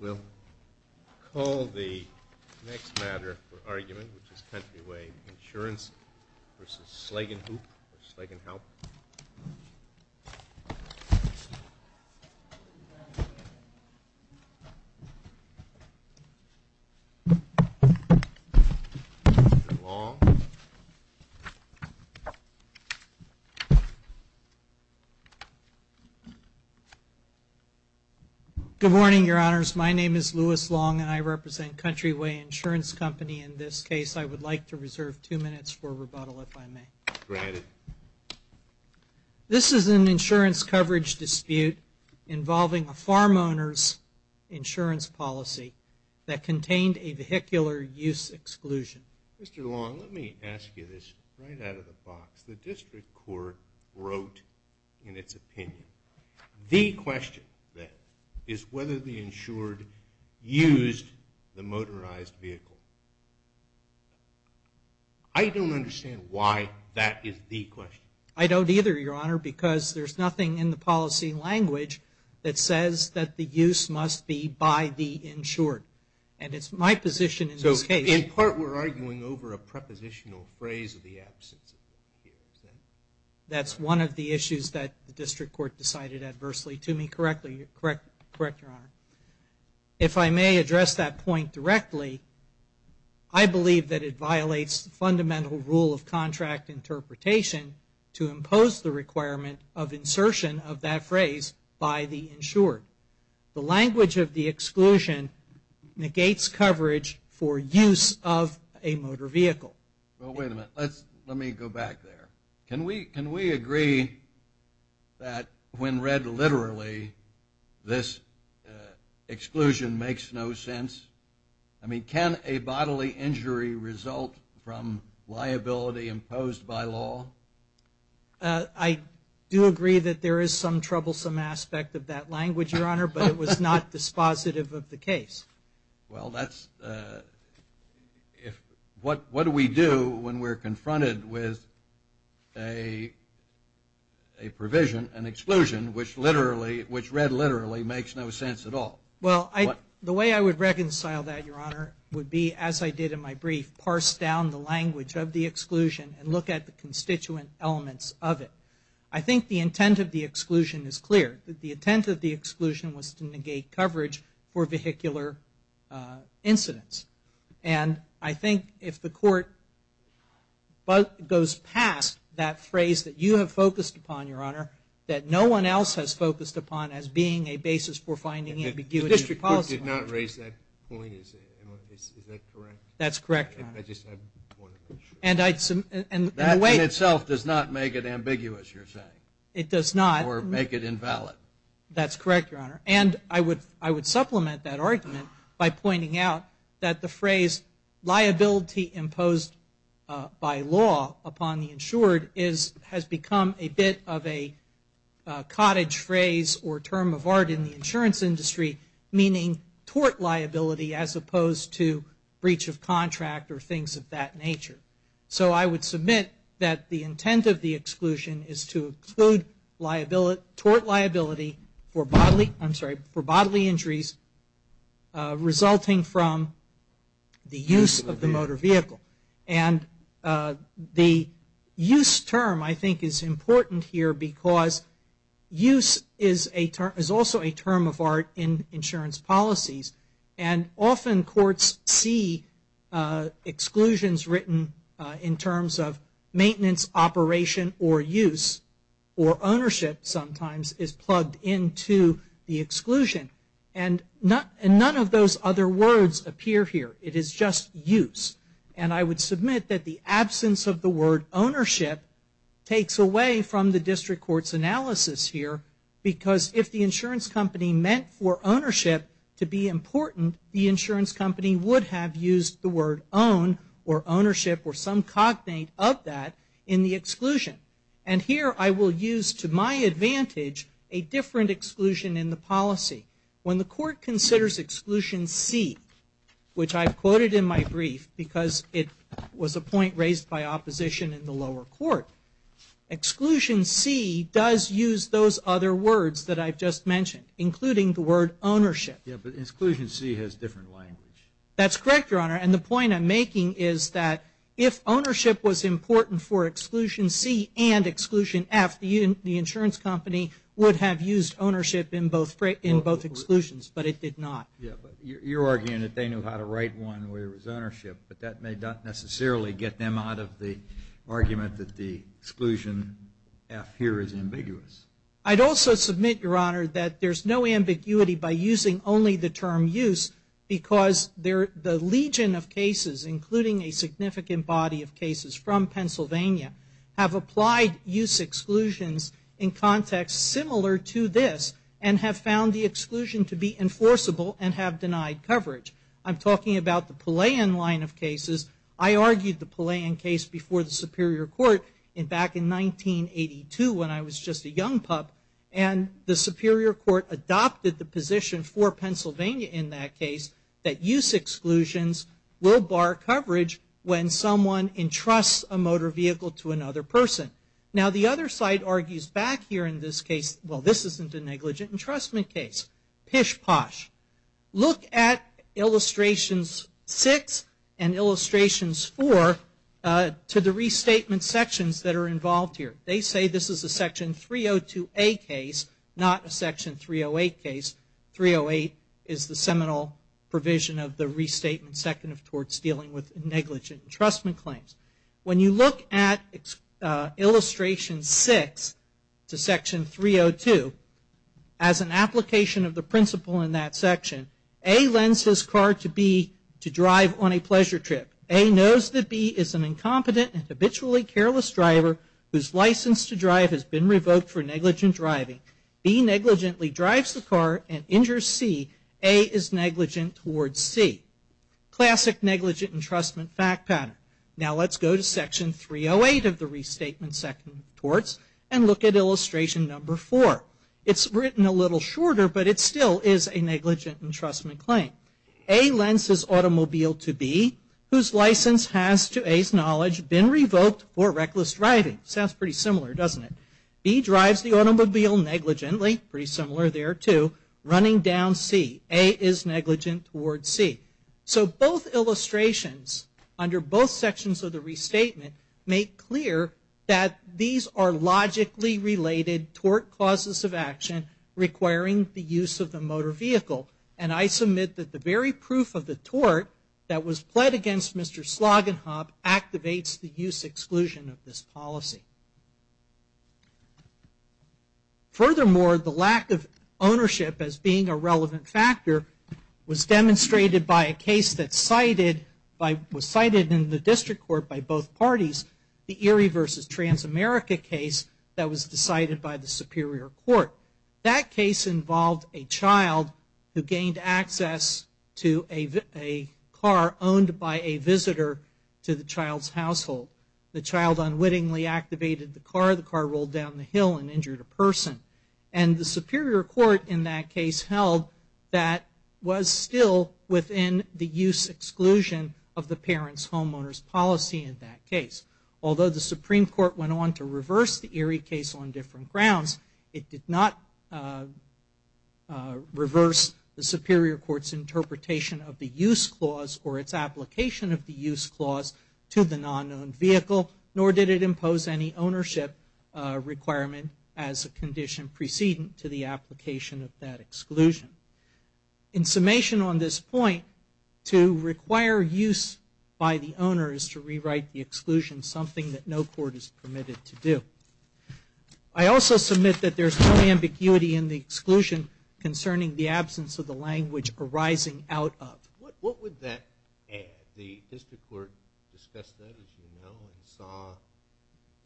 We'll call the next matter for argument, which is Countryway Insurance versus Slagenhoop or Slagenhelp. Good morning, Your Honors. My name is Louis Long and I represent Countryway Insurance Company. In this case, I would like to reserve two minutes for rebuttal, if I may. Granted. This is an insurance coverage dispute involving a farm owner's insurance policy that contained a vehicular use exclusion. Mr. Long, let me ask you this right out of the box. As the district court wrote in its opinion, the question then is whether the insured used the motorized vehicle. I don't understand why that is the question. I don't either, Your Honor, because there's nothing in the policy language that says that the use must be by the insured. And it's my position in this case. In part, we're arguing over a prepositional phrase of the absence. That's one of the issues that the district court decided adversely to me. Correct, Your Honor. If I may address that point directly, I believe that it violates the fundamental rule of contract interpretation to impose the requirement of insertion of that phrase by the insured. The language of the exclusion negates coverage for use of a motor vehicle. Well, wait a minute. Let me go back there. Can we agree that when read literally, this exclusion makes no sense? I mean, can a bodily injury result from liability imposed by law? I do agree that there is some troublesome aspect of that language, Your Honor, but it was not dispositive of the case. Well, what do we do when we're confronted with a provision, an exclusion, which read literally makes no sense at all? Well, the way I would reconcile that, Your Honor, would be, as I did in my brief, parse down the language of the exclusion and look at the constituent elements of it. I think the intent of the exclusion is clear. The intent of the exclusion was to negate coverage for vehicular incidents. And I think if the court goes past that phrase that you have focused upon, Your Honor, that no one else has focused upon as being a basis for finding ambiguity in policy. The district court did not raise that point. Is that correct? That's correct, Your Honor. That in itself does not make it ambiguous, you're saying. It does not. Or make it invalid. That's correct, Your Honor. And I would supplement that argument by pointing out that the phrase liability imposed by law upon the insured has become a bit of a cottage phrase or term of art in the insurance industry, meaning tort liability as opposed to breach of contract or things of that nature. So I would submit that the intent of the exclusion is to include tort liability for bodily injuries resulting from the use of the motor vehicle. And the use term I think is important here because use is also a term of art in insurance policies. And often courts see exclusions written in terms of maintenance operation or use or ownership sometimes is plugged into the exclusion. And none of those other words appear here. It is just use. And I would submit that the absence of the word ownership takes away from the district court's analysis here because if the insurance company meant for ownership to be important, the insurance company would have used the word own or ownership or some cognate of that in the exclusion. And here I will use to my advantage a different exclusion in the policy. When the court considers exclusion C, which I've quoted in my brief because it was a point raised by opposition in the lower court, exclusion C does use those other words that I've just mentioned, including the word ownership. Yeah, but exclusion C has different language. That's correct, Your Honor. And the point I'm making is that if ownership was important for exclusion C and exclusion F, the insurance company would have used ownership in both exclusions, but it did not. Yeah, but you're arguing that they knew how to write one where it was ownership, but that may not necessarily get them out of the argument that the exclusion F here is ambiguous. I'd also submit, Your Honor, that there's no ambiguity by using only the term use because the legion of cases, including a significant body of cases from Pennsylvania, have applied use exclusions in contexts similar to this and have found the exclusion to be enforceable and have denied coverage. I'm talking about the Palayan line of cases. I argued the Palayan case before the Superior Court back in 1982 when I was just a young pup, and the Superior Court adopted the position for Pennsylvania in that case that use exclusions will bar coverage when someone entrusts a motor vehicle to another person. Now, the other side argues back here in this case, well, this isn't a negligent entrustment case. Pish posh. Look at illustrations 6 and illustrations 4 to the restatement sections that are involved here. They say this is a section 302A case, not a section 308 case. 308 is the seminal provision of the restatement second of torts dealing with negligent entrustment claims. When you look at illustration 6 to section 302, as an application of the principle in that section, A lends his car to B to drive on a pleasure trip. A knows that B is an incompetent and habitually careless driver whose license to drive has been revoked for negligent driving. B negligently drives the car and injures C. A is negligent towards C. Classic negligent entrustment fact pattern. Now, let's go to section 308 of the restatement second of torts and look at illustration number 4. It's written a little shorter, but it still is a negligent entrustment claim. A lends his automobile to B whose license has, to A's knowledge, been revoked for reckless driving. Sounds pretty similar, doesn't it? B drives the automobile negligently, pretty similar there too, running down C. A is negligent towards C. So both illustrations, under both sections of the restatement, make clear that these are logically related tort causes of action requiring the use of the motor vehicle. And I submit that the very proof of the tort that was pled against Mr. Slagenhop activates the use exclusion of this policy. Furthermore, the lack of ownership as being a relevant factor was demonstrated by a case that was cited in the district court by both parties, the Erie v. Transamerica case that was decided by the Superior Court. That case involved a child who gained access to a car owned by a visitor to the child's household. The child unwittingly activated the car. The car rolled down the hill and injured a person. And the Superior Court in that case held that was still within the use exclusion of the parent's homeowner's policy in that case. Although the Supreme Court went on to reverse the Erie case on different grounds, it did not reverse the Superior Court's interpretation of the use clause or its application of the use clause to the non-owned vehicle, nor did it impose any ownership requirement as a condition preceding to the application of that exclusion. In summation on this point, to require use by the owner is to rewrite the exclusion, something that no court is permitted to do. I also submit that there's no ambiguity in the exclusion concerning the absence of the language arising out of. What would that add? The district court discussed that, as you know, and saw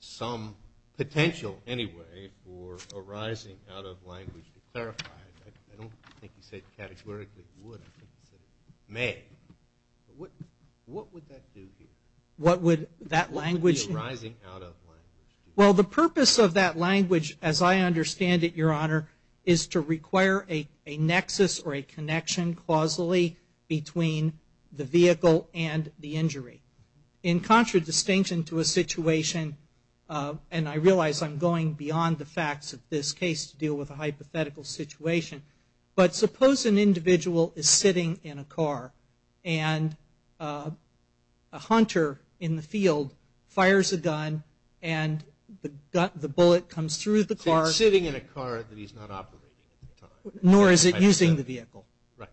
some potential anyway for arising out of language to clarify. I don't think you said categorically would. I think you said may. What would that do here? Arising out of language. Well, the purpose of that language, as I understand it, Your Honor, is to require a nexus or a connection causally between the vehicle and the injury. In contradistinction to a situation, and I realize I'm going beyond the facts of this case to deal with a hypothetical situation, but suppose an individual is sitting in a car and a hunter in the field fires a gun and the bullet comes through the car. So he's sitting in a car that he's not operating. Nor is it using the vehicle. Right.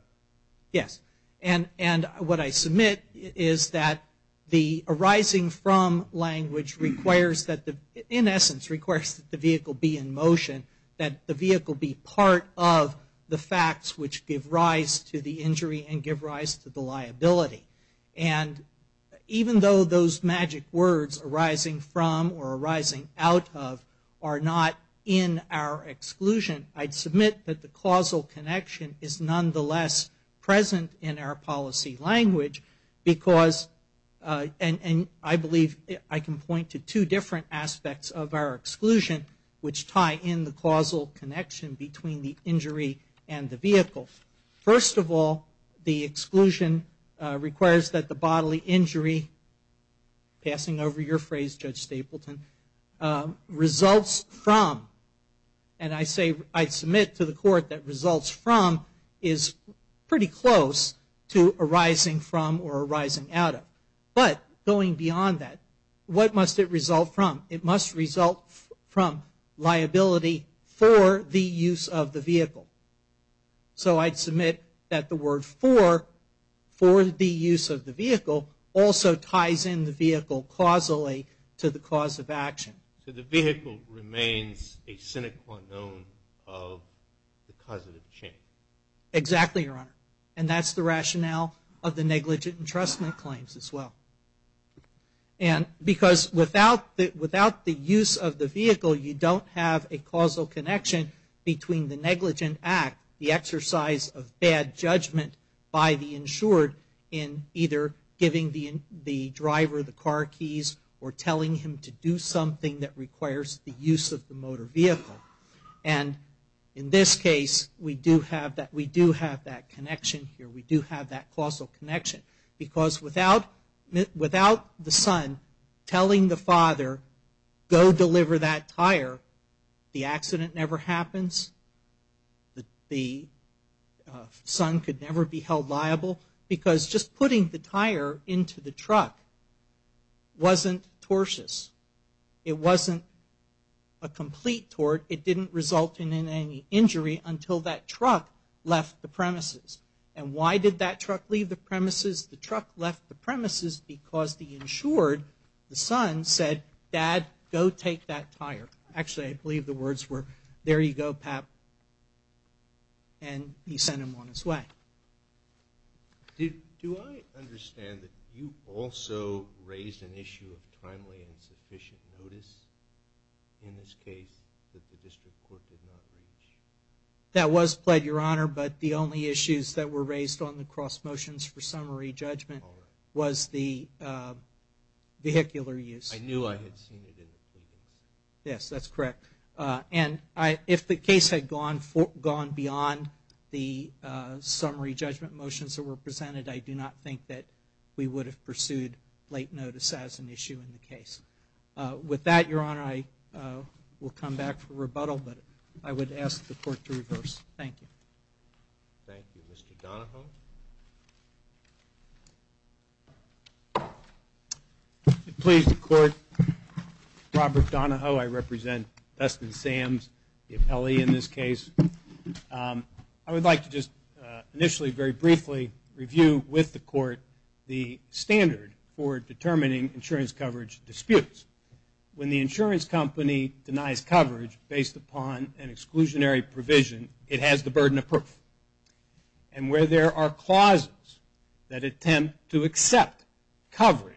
Yes. And what I submit is that the arising from language requires that the, in essence requires that the vehicle be in motion, that the vehicle be part of the facts which give rise to the injury and give rise to the liability. And even though those magic words arising from or arising out of are not in our exclusion, I'd submit that the causal connection is nonetheless present in our policy language because, and I believe I can point to two different aspects of our exclusion which tie in the causal connection between the injury and the vehicle. First of all, the exclusion requires that the bodily injury, passing over your phrase, Judge Stapleton, results from, and I say I submit to the court that results from is pretty close to arising from or arising out of. But going beyond that, what must it result from? It must result from liability for the use of the vehicle. So I'd submit that the word for, for the use of the vehicle, also ties in the vehicle causally to the cause of action. So the vehicle remains a sine qua non of the causative change. Exactly, Your Honor. And that's the rationale of the negligent entrustment claims as well. And because without the use of the vehicle, you don't have a causal connection between the negligent act, the exercise of bad judgment by the insured in either giving the driver the car keys or telling him to do something that requires the use of the motor vehicle. And in this case, we do have that connection here. We do have that causal connection. Because without the son telling the father, go deliver that tire, the accident never happens, the son could never be held liable, because just putting the tire into the truck wasn't tortious. It wasn't a complete tort. It didn't result in any injury until that truck left the premises. And why did that truck leave the premises? The truck left the premises because the insured, the son, said, dad, go take that tire. Actually, I believe the words were, there you go, pap. And he sent him on his way. Do I understand that you also raised an issue of timely and sufficient notice in this case that the district court did not reach? That was pled, Your Honor. But the only issues that were raised on the cross motions for summary judgment was the vehicular use. I knew I had seen it in the previous case. Yes, that's correct. And if the case had gone beyond the summary judgment motions that were presented, I do not think that we would have pursued late notice as an issue in the case. With that, Your Honor, I will come back for rebuttal. But I would ask the court to reverse. Thank you. Thank you. Mr. Donahoe. Please, the court. Robert Donahoe. I represent Dustin Sams, the appellee in this case. I would like to just initially very briefly review with the court the standard for determining insurance coverage disputes. When the insurance company denies coverage based upon an exclusionary provision, it has the burden of proof. And where there are clauses that attempt to accept coverage,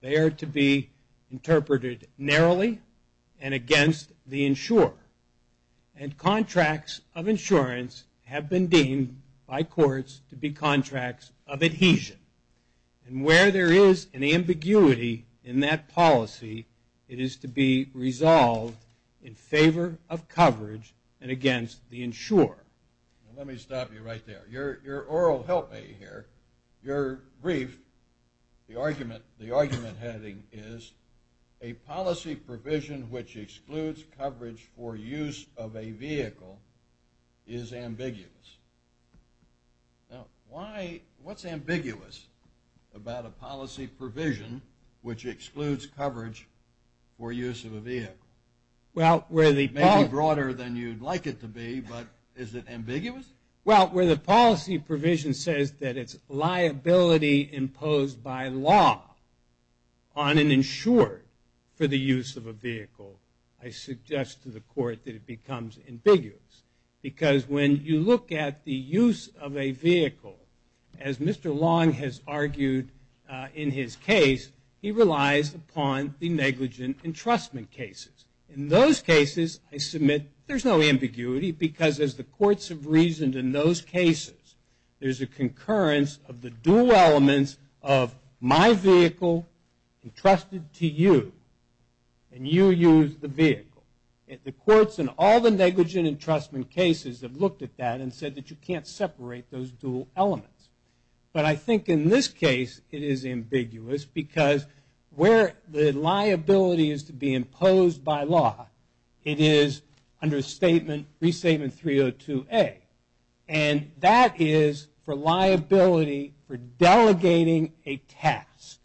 they are to be interpreted narrowly and against the insurer. And contracts of insurance have been deemed by courts to be contracts of adhesion. And where there is an ambiguity in that policy, it is to be resolved in favor of coverage and against the insurer. Let me stop you right there. Your oral help me here. Your brief, the argument heading is, a policy provision which excludes coverage for use of a vehicle is ambiguous. Now, why, what's ambiguous about a policy provision which excludes coverage for use of a vehicle? Maybe broader than you'd like it to be, but is it ambiguous? Well, where the policy provision says that it's liability imposed by law on an insurer for the use of a vehicle, I suggest to the court that it becomes ambiguous. Because when you look at the use of a vehicle, as Mr. Long has argued in his case, he relies upon the negligent entrustment cases. In those cases, I submit there's no ambiguity, because as the courts have reasoned in those cases, there's a concurrence of the dual elements of my vehicle entrusted to you, and you use the vehicle. The courts in all the negligent entrustment cases have looked at that and said that you can't separate those dual elements. But I think in this case, it is ambiguous, because where the liability is to be imposed by law, it is under Restatement 302A. And that is for liability for delegating a task.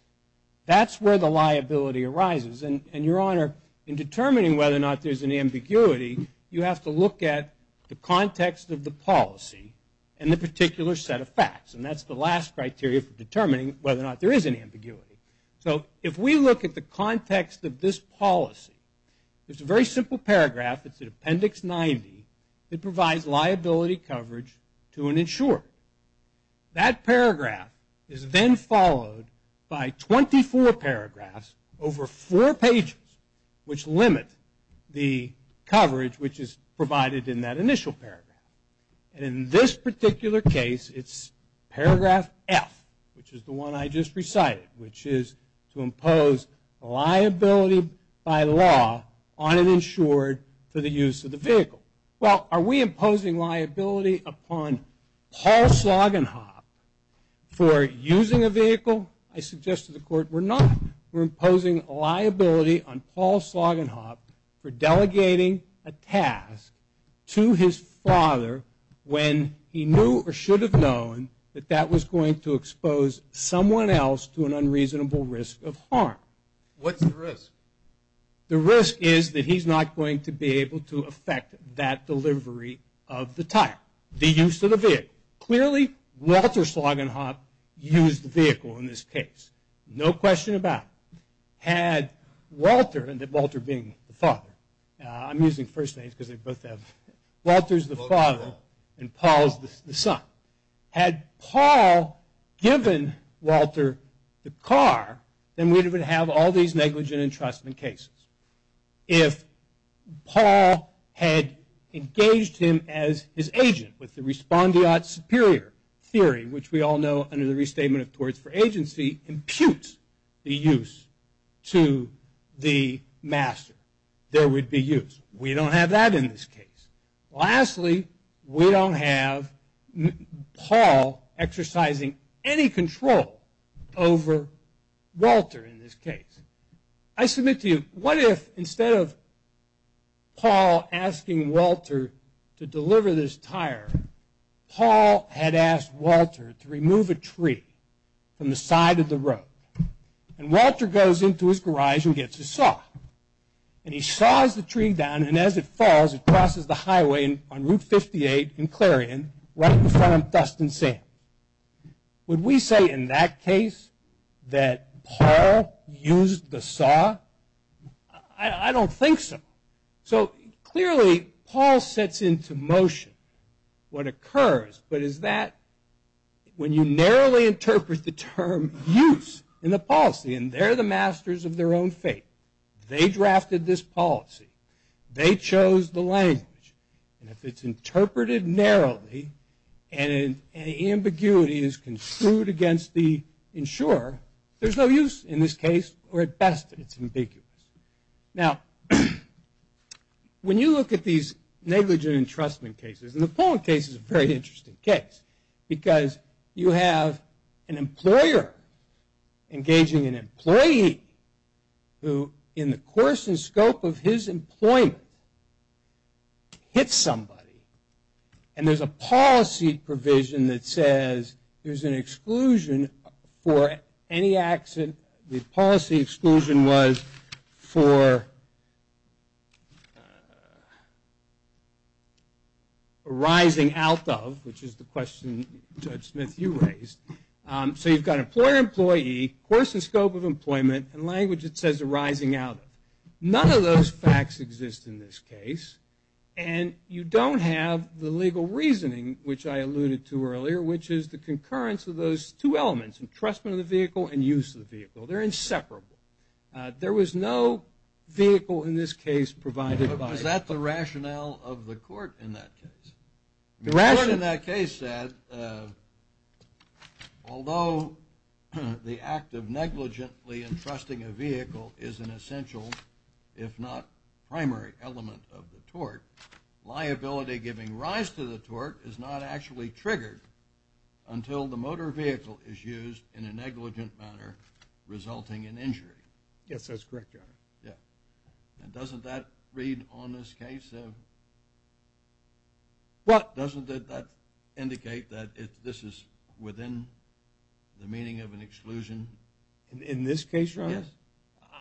That's where the liability arises. And, Your Honor, in determining whether or not there's an ambiguity, you have to look at the context of the policy and the particular set of facts. And that's the last criteria for determining whether or not there is an ambiguity. So if we look at the context of this policy, it's a very simple paragraph. It's in Appendix 90. It provides liability coverage to an insurer. That paragraph is then followed by 24 paragraphs over four pages, which limit the coverage which is provided in that initial paragraph. And in this particular case, it's Paragraph F, which is the one I just recited, which is to impose liability by law on an insurer for the use of the vehicle. Well, are we imposing liability upon Paul Sloggenhop for using a vehicle? I suggest to the Court we're not. We're imposing liability on Paul Sloggenhop for delegating a task to his father when he knew or should have known that that was going to expose someone else to an unreasonable risk of harm. What's the risk? The risk is that he's not going to be able to affect that delivery of the tire, the use of the vehicle. Clearly, Walter Sloggenhop used the vehicle in this case, no question about it. Had Walter, Walter being the father, I'm using first names because they both have, Walter's the father and Paul's the son. Had Paul given Walter the car, then we would have all these negligent entrustment cases. If Paul had engaged him as his agent with the respondeat superior theory, which we all know under the restatement of torts for agency, imputes the use to the master, there would be use. We don't have that in this case. Lastly, we don't have Paul exercising any control over Walter in this case. I submit to you, what if instead of Paul asking Walter to deliver this tire, Paul had asked Walter to remove a tree from the side of the road, and Walter goes into his garage and gets a saw. He saws the tree down, and as it falls, it crosses the highway on Route 58 in Clarion, right in front of Dustin Sand. Would we say in that case that Paul used the saw? I don't think so. Clearly, Paul sets into motion what occurs, but is that when you narrowly interpret the term use in the policy, and they're the masters of their own fate. They drafted this policy. They chose the language, and if it's interpreted narrowly, and an ambiguity is construed against the insurer, there's no use in this case, or at best, it's ambiguous. Now, when you look at these negligent entrustment cases, and the Paul case is a very interesting case, because you have an employer engaging an employee who, in the course and scope of his employment, hits somebody, and there's a policy provision that says there's an exclusion for any accident. The policy exclusion was for arising out of, which is the question Judge Smith, you raised. So you've got employer-employee, course and scope of employment, and language that says arising out of. None of those facts exist in this case, and you don't have the legal reasoning, which I alluded to earlier, which is the concurrence of those two elements, entrustment of the vehicle and use of the vehicle. They're inseparable. There was no vehicle in this case provided by the court. But was that the rationale of the court in that case? The court in that case said, although the act of negligently entrusting a vehicle is an essential, if not primary element of the tort, liability giving rise to the tort is not actually triggered until the motor vehicle is used in a negligent manner resulting in injury. Yes, that's correct, Your Honor. And doesn't that read on this case? Doesn't that indicate that this is within the meaning of an exclusion? In this case, Your Honor? Yes.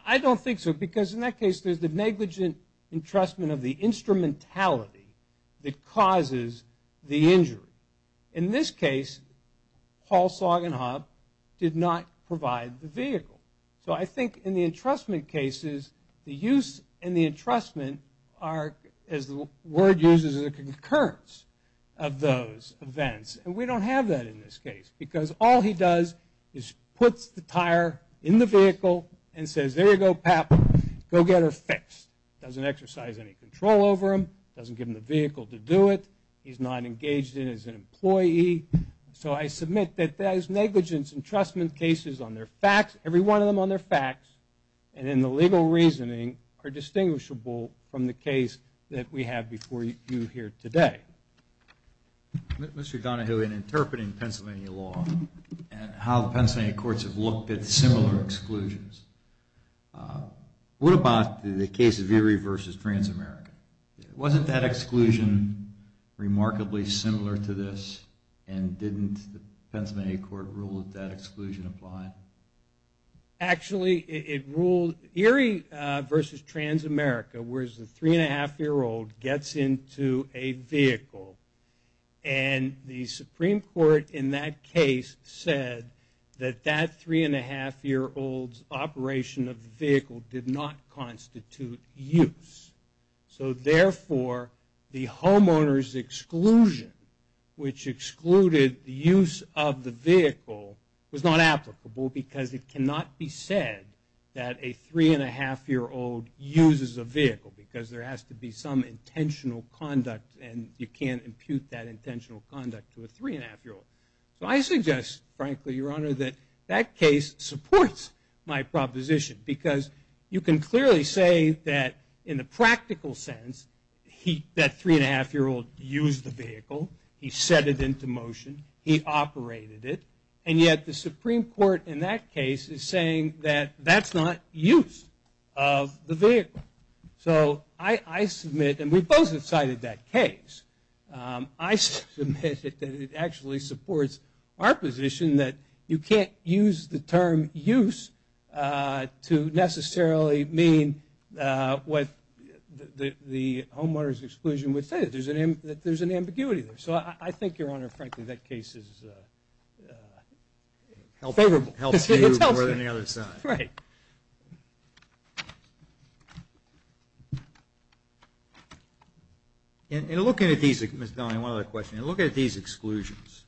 I don't think so because in that case there's the negligent entrustment of the instrumentality that causes the injury. In this case, Paul Sagan Hobb did not provide the vehicle. So I think in the entrustment cases, the use and the entrustment are, as the word uses, a concurrence of those events. And we don't have that in this case because all he does is puts the tire in the vehicle and says, there you go, pap, go get her fixed. Doesn't exercise any control over him. Doesn't give him the vehicle to do it. He's not engaged in it as an employee. So I submit that there's negligence entrustment cases on their facts, every one of them on their facts, and in the legal reasoning are distinguishable from the case that we have before you here today. Mr. Donahue, in interpreting Pennsylvania law and how the Pennsylvania courts have looked at similar exclusions, what about the case of Erie v. Transamerica? Wasn't that exclusion remarkably similar to this and didn't the Pennsylvania court rule that that exclusion applied? Actually, it ruled Erie v. Transamerica, where the three-and-a-half-year-old gets into a vehicle, and the Supreme Court in that case said that that three-and-a-half-year-old's operation of the vehicle did not constitute use. So therefore, the homeowner's exclusion, which excluded the use of the vehicle, was not applicable because it cannot be said that a three-and-a-half-year-old uses a vehicle because there has to be some intentional conduct and you can't impute that intentional conduct to a three-and-a-half-year-old. So I suggest, frankly, Your Honor, that that case supports my proposition because you can clearly say that in the practical sense, that three-and-a-half-year-old used the vehicle, he set it into motion, he operated it, and yet the Supreme Court in that case is saying that that's not use of the vehicle. So I submit, and we both have cited that case, I submit that it actually supports our position that you can't use the term use to necessarily mean what the homeowner's exclusion would say. There's an ambiguity there. So I think, Your Honor, frankly, that case is favorable. It's healthier than the other side. Right. In looking at these, Ms. Donahue, one other question, in looking at these exclusions,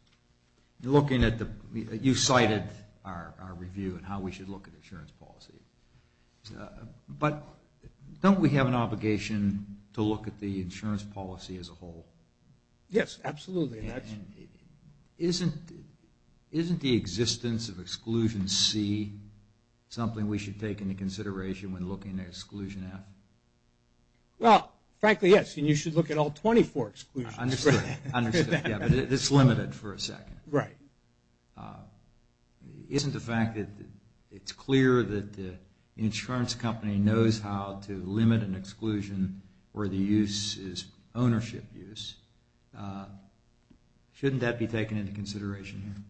looking at the, you cited our review and how we should look at insurance policy, but don't we have an obligation to look at the insurance policy as a whole? Yes, absolutely. Isn't the existence of exclusion C something we should take into consideration when looking at exclusion F? Well, frankly, yes, and you should look at all 24 exclusions. Understood, understood. Yeah, but it's limited for a second. Right. Isn't the fact that it's clear that the insurance company knows how to limit an exclusion where the use is ownership use, shouldn't that be taken into consideration here?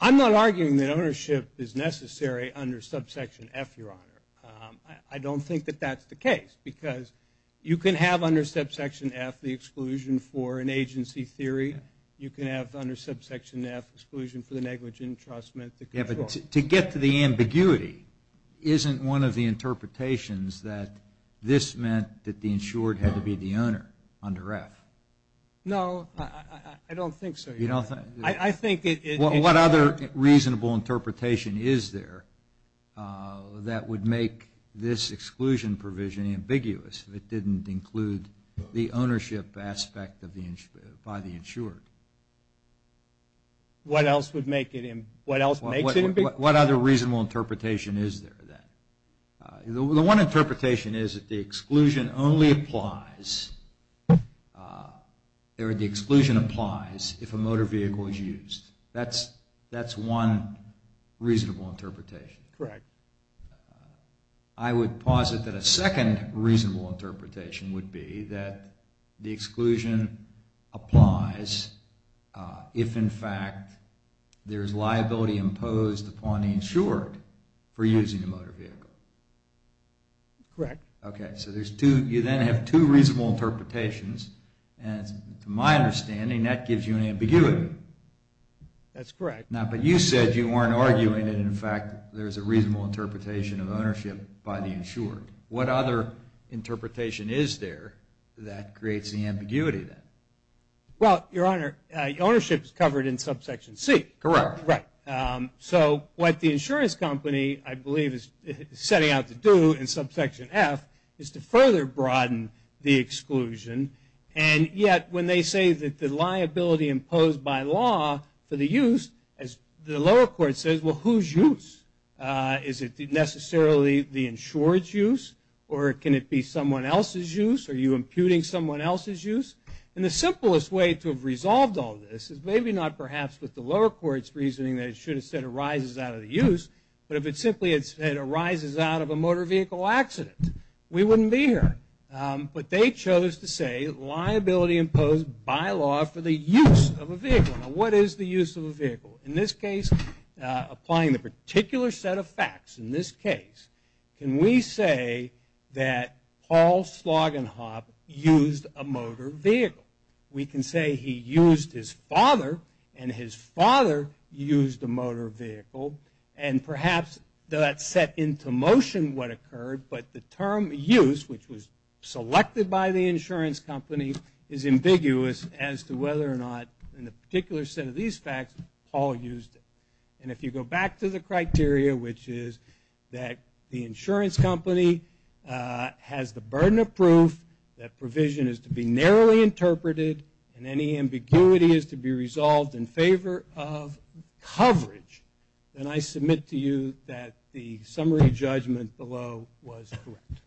I'm not arguing that ownership is necessary under subsection F, Your Honor. I don't think that that's the case because you can have under subsection F the exclusion for an agency theory. You can have under subsection F exclusion for the negligent entrustment. Yeah, but to get to the ambiguity, isn't one of the interpretations that this meant that the insured had to be the owner under F? No, I don't think so, Your Honor. What other reasonable interpretation is there that would make this exclusion provision ambiguous if it didn't include the ownership aspect by the insured? What else would make it ambiguous? What other reasonable interpretation is there then? The one interpretation is that the exclusion only applies, the exclusion applies if a motor vehicle is used. That's one reasonable interpretation. Correct. I would posit that a second reasonable interpretation would be that the exclusion applies if, in fact, there is liability imposed upon the insured for using a motor vehicle. Correct. Okay, so you then have two reasonable interpretations, and to my understanding, that gives you an ambiguity. That's correct. Now, but you said you weren't arguing that, in fact, there's a reasonable interpretation of ownership by the insured. What other interpretation is there that creates the ambiguity then? Well, Your Honor, ownership is covered in subsection C. Correct. Right. So what the insurance company, I believe, is setting out to do in subsection F is to further broaden the exclusion, and yet when they say that the liability imposed by law for the use, as the lower court says, well, whose use? Is it necessarily the insured's use, or can it be someone else's use? Are you imputing someone else's use? And the simplest way to have resolved all this is maybe not perhaps with the insured instead arises out of the use, but if it simply had said arises out of a motor vehicle accident, we wouldn't be here. But they chose to say liability imposed by law for the use of a vehicle. Now, what is the use of a vehicle? In this case, applying the particular set of facts in this case, can we say that Paul Slogginhop used a motor vehicle? We can say he used his father, and his father used a motor vehicle, and perhaps that set into motion what occurred, but the term use, which was selected by the insurance company, is ambiguous as to whether or not, in the particular set of these facts, Paul used it. And if you go back to the criteria, which is that the insurance company has the burden of proof, that provision is to be narrowly interpreted, and any ambiguity is to be resolved in favor of coverage, then I submit to you that the summary judgment below was correct.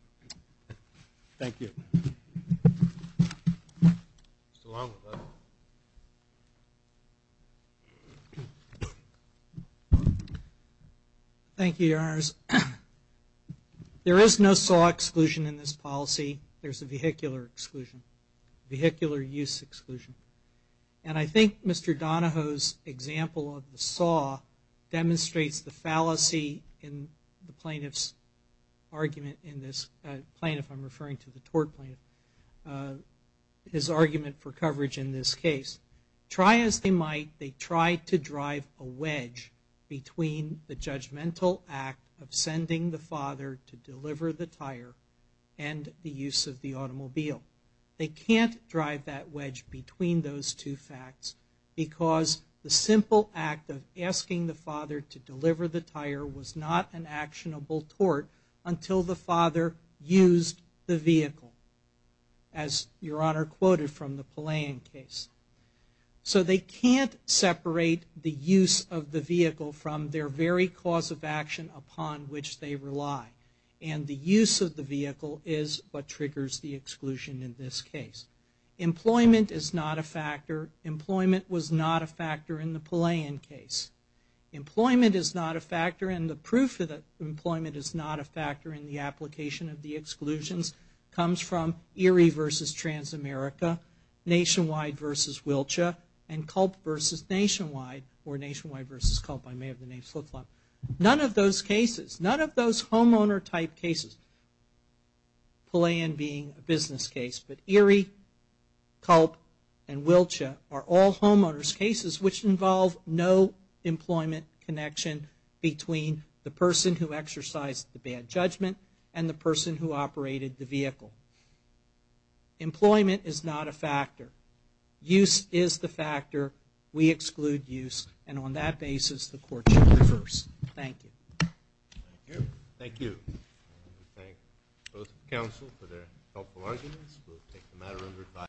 Thank you. Thank you, Your Honors. There is no SAW exclusion in this policy. There is a vehicular exclusion, vehicular use exclusion. And I think Mr. Donahoe's example of the SAW demonstrates the fallacy in the plaintiff's argument in this, plaintiff, I'm referring to the tort plaintiff, his argument for coverage in this case. Try as they might, they tried to drive a wedge between the judgmental act of sending the father to deliver the tire and the use of the automobile. They can't drive that wedge between those two facts, because the simple act of asking the father to deliver the tire was not an actionable tort until the father used the vehicle, as Your Honor quoted from the Palayan case. So they can't separate the use of the vehicle from their very cause of action upon which they rely. And the use of the vehicle is what triggers the exclusion in this case. Employment is not a factor. Employment was not a factor in the Palayan case. Employment is not a factor, and the proof that employment is not a factor in the application of the exclusions comes from Erie v. Transamerica, Nationwide v. Wiltshire, and Culp v. Nationwide, or Nationwide v. Culp, I may have the name of those cases. None of those homeowner-type cases, Palayan being a business case, but Erie, Culp, and Wiltshire are all homeowner's cases which involve no employment connection between the person who exercised the bad judgment and the person who operated the vehicle. Employment is not a factor. Use is the factor. We exclude use, and on that basis, the Court shall reverse. Thank you. Thank you. Thank you. We thank both counsel for their helpful arguments. We'll take the matter under review.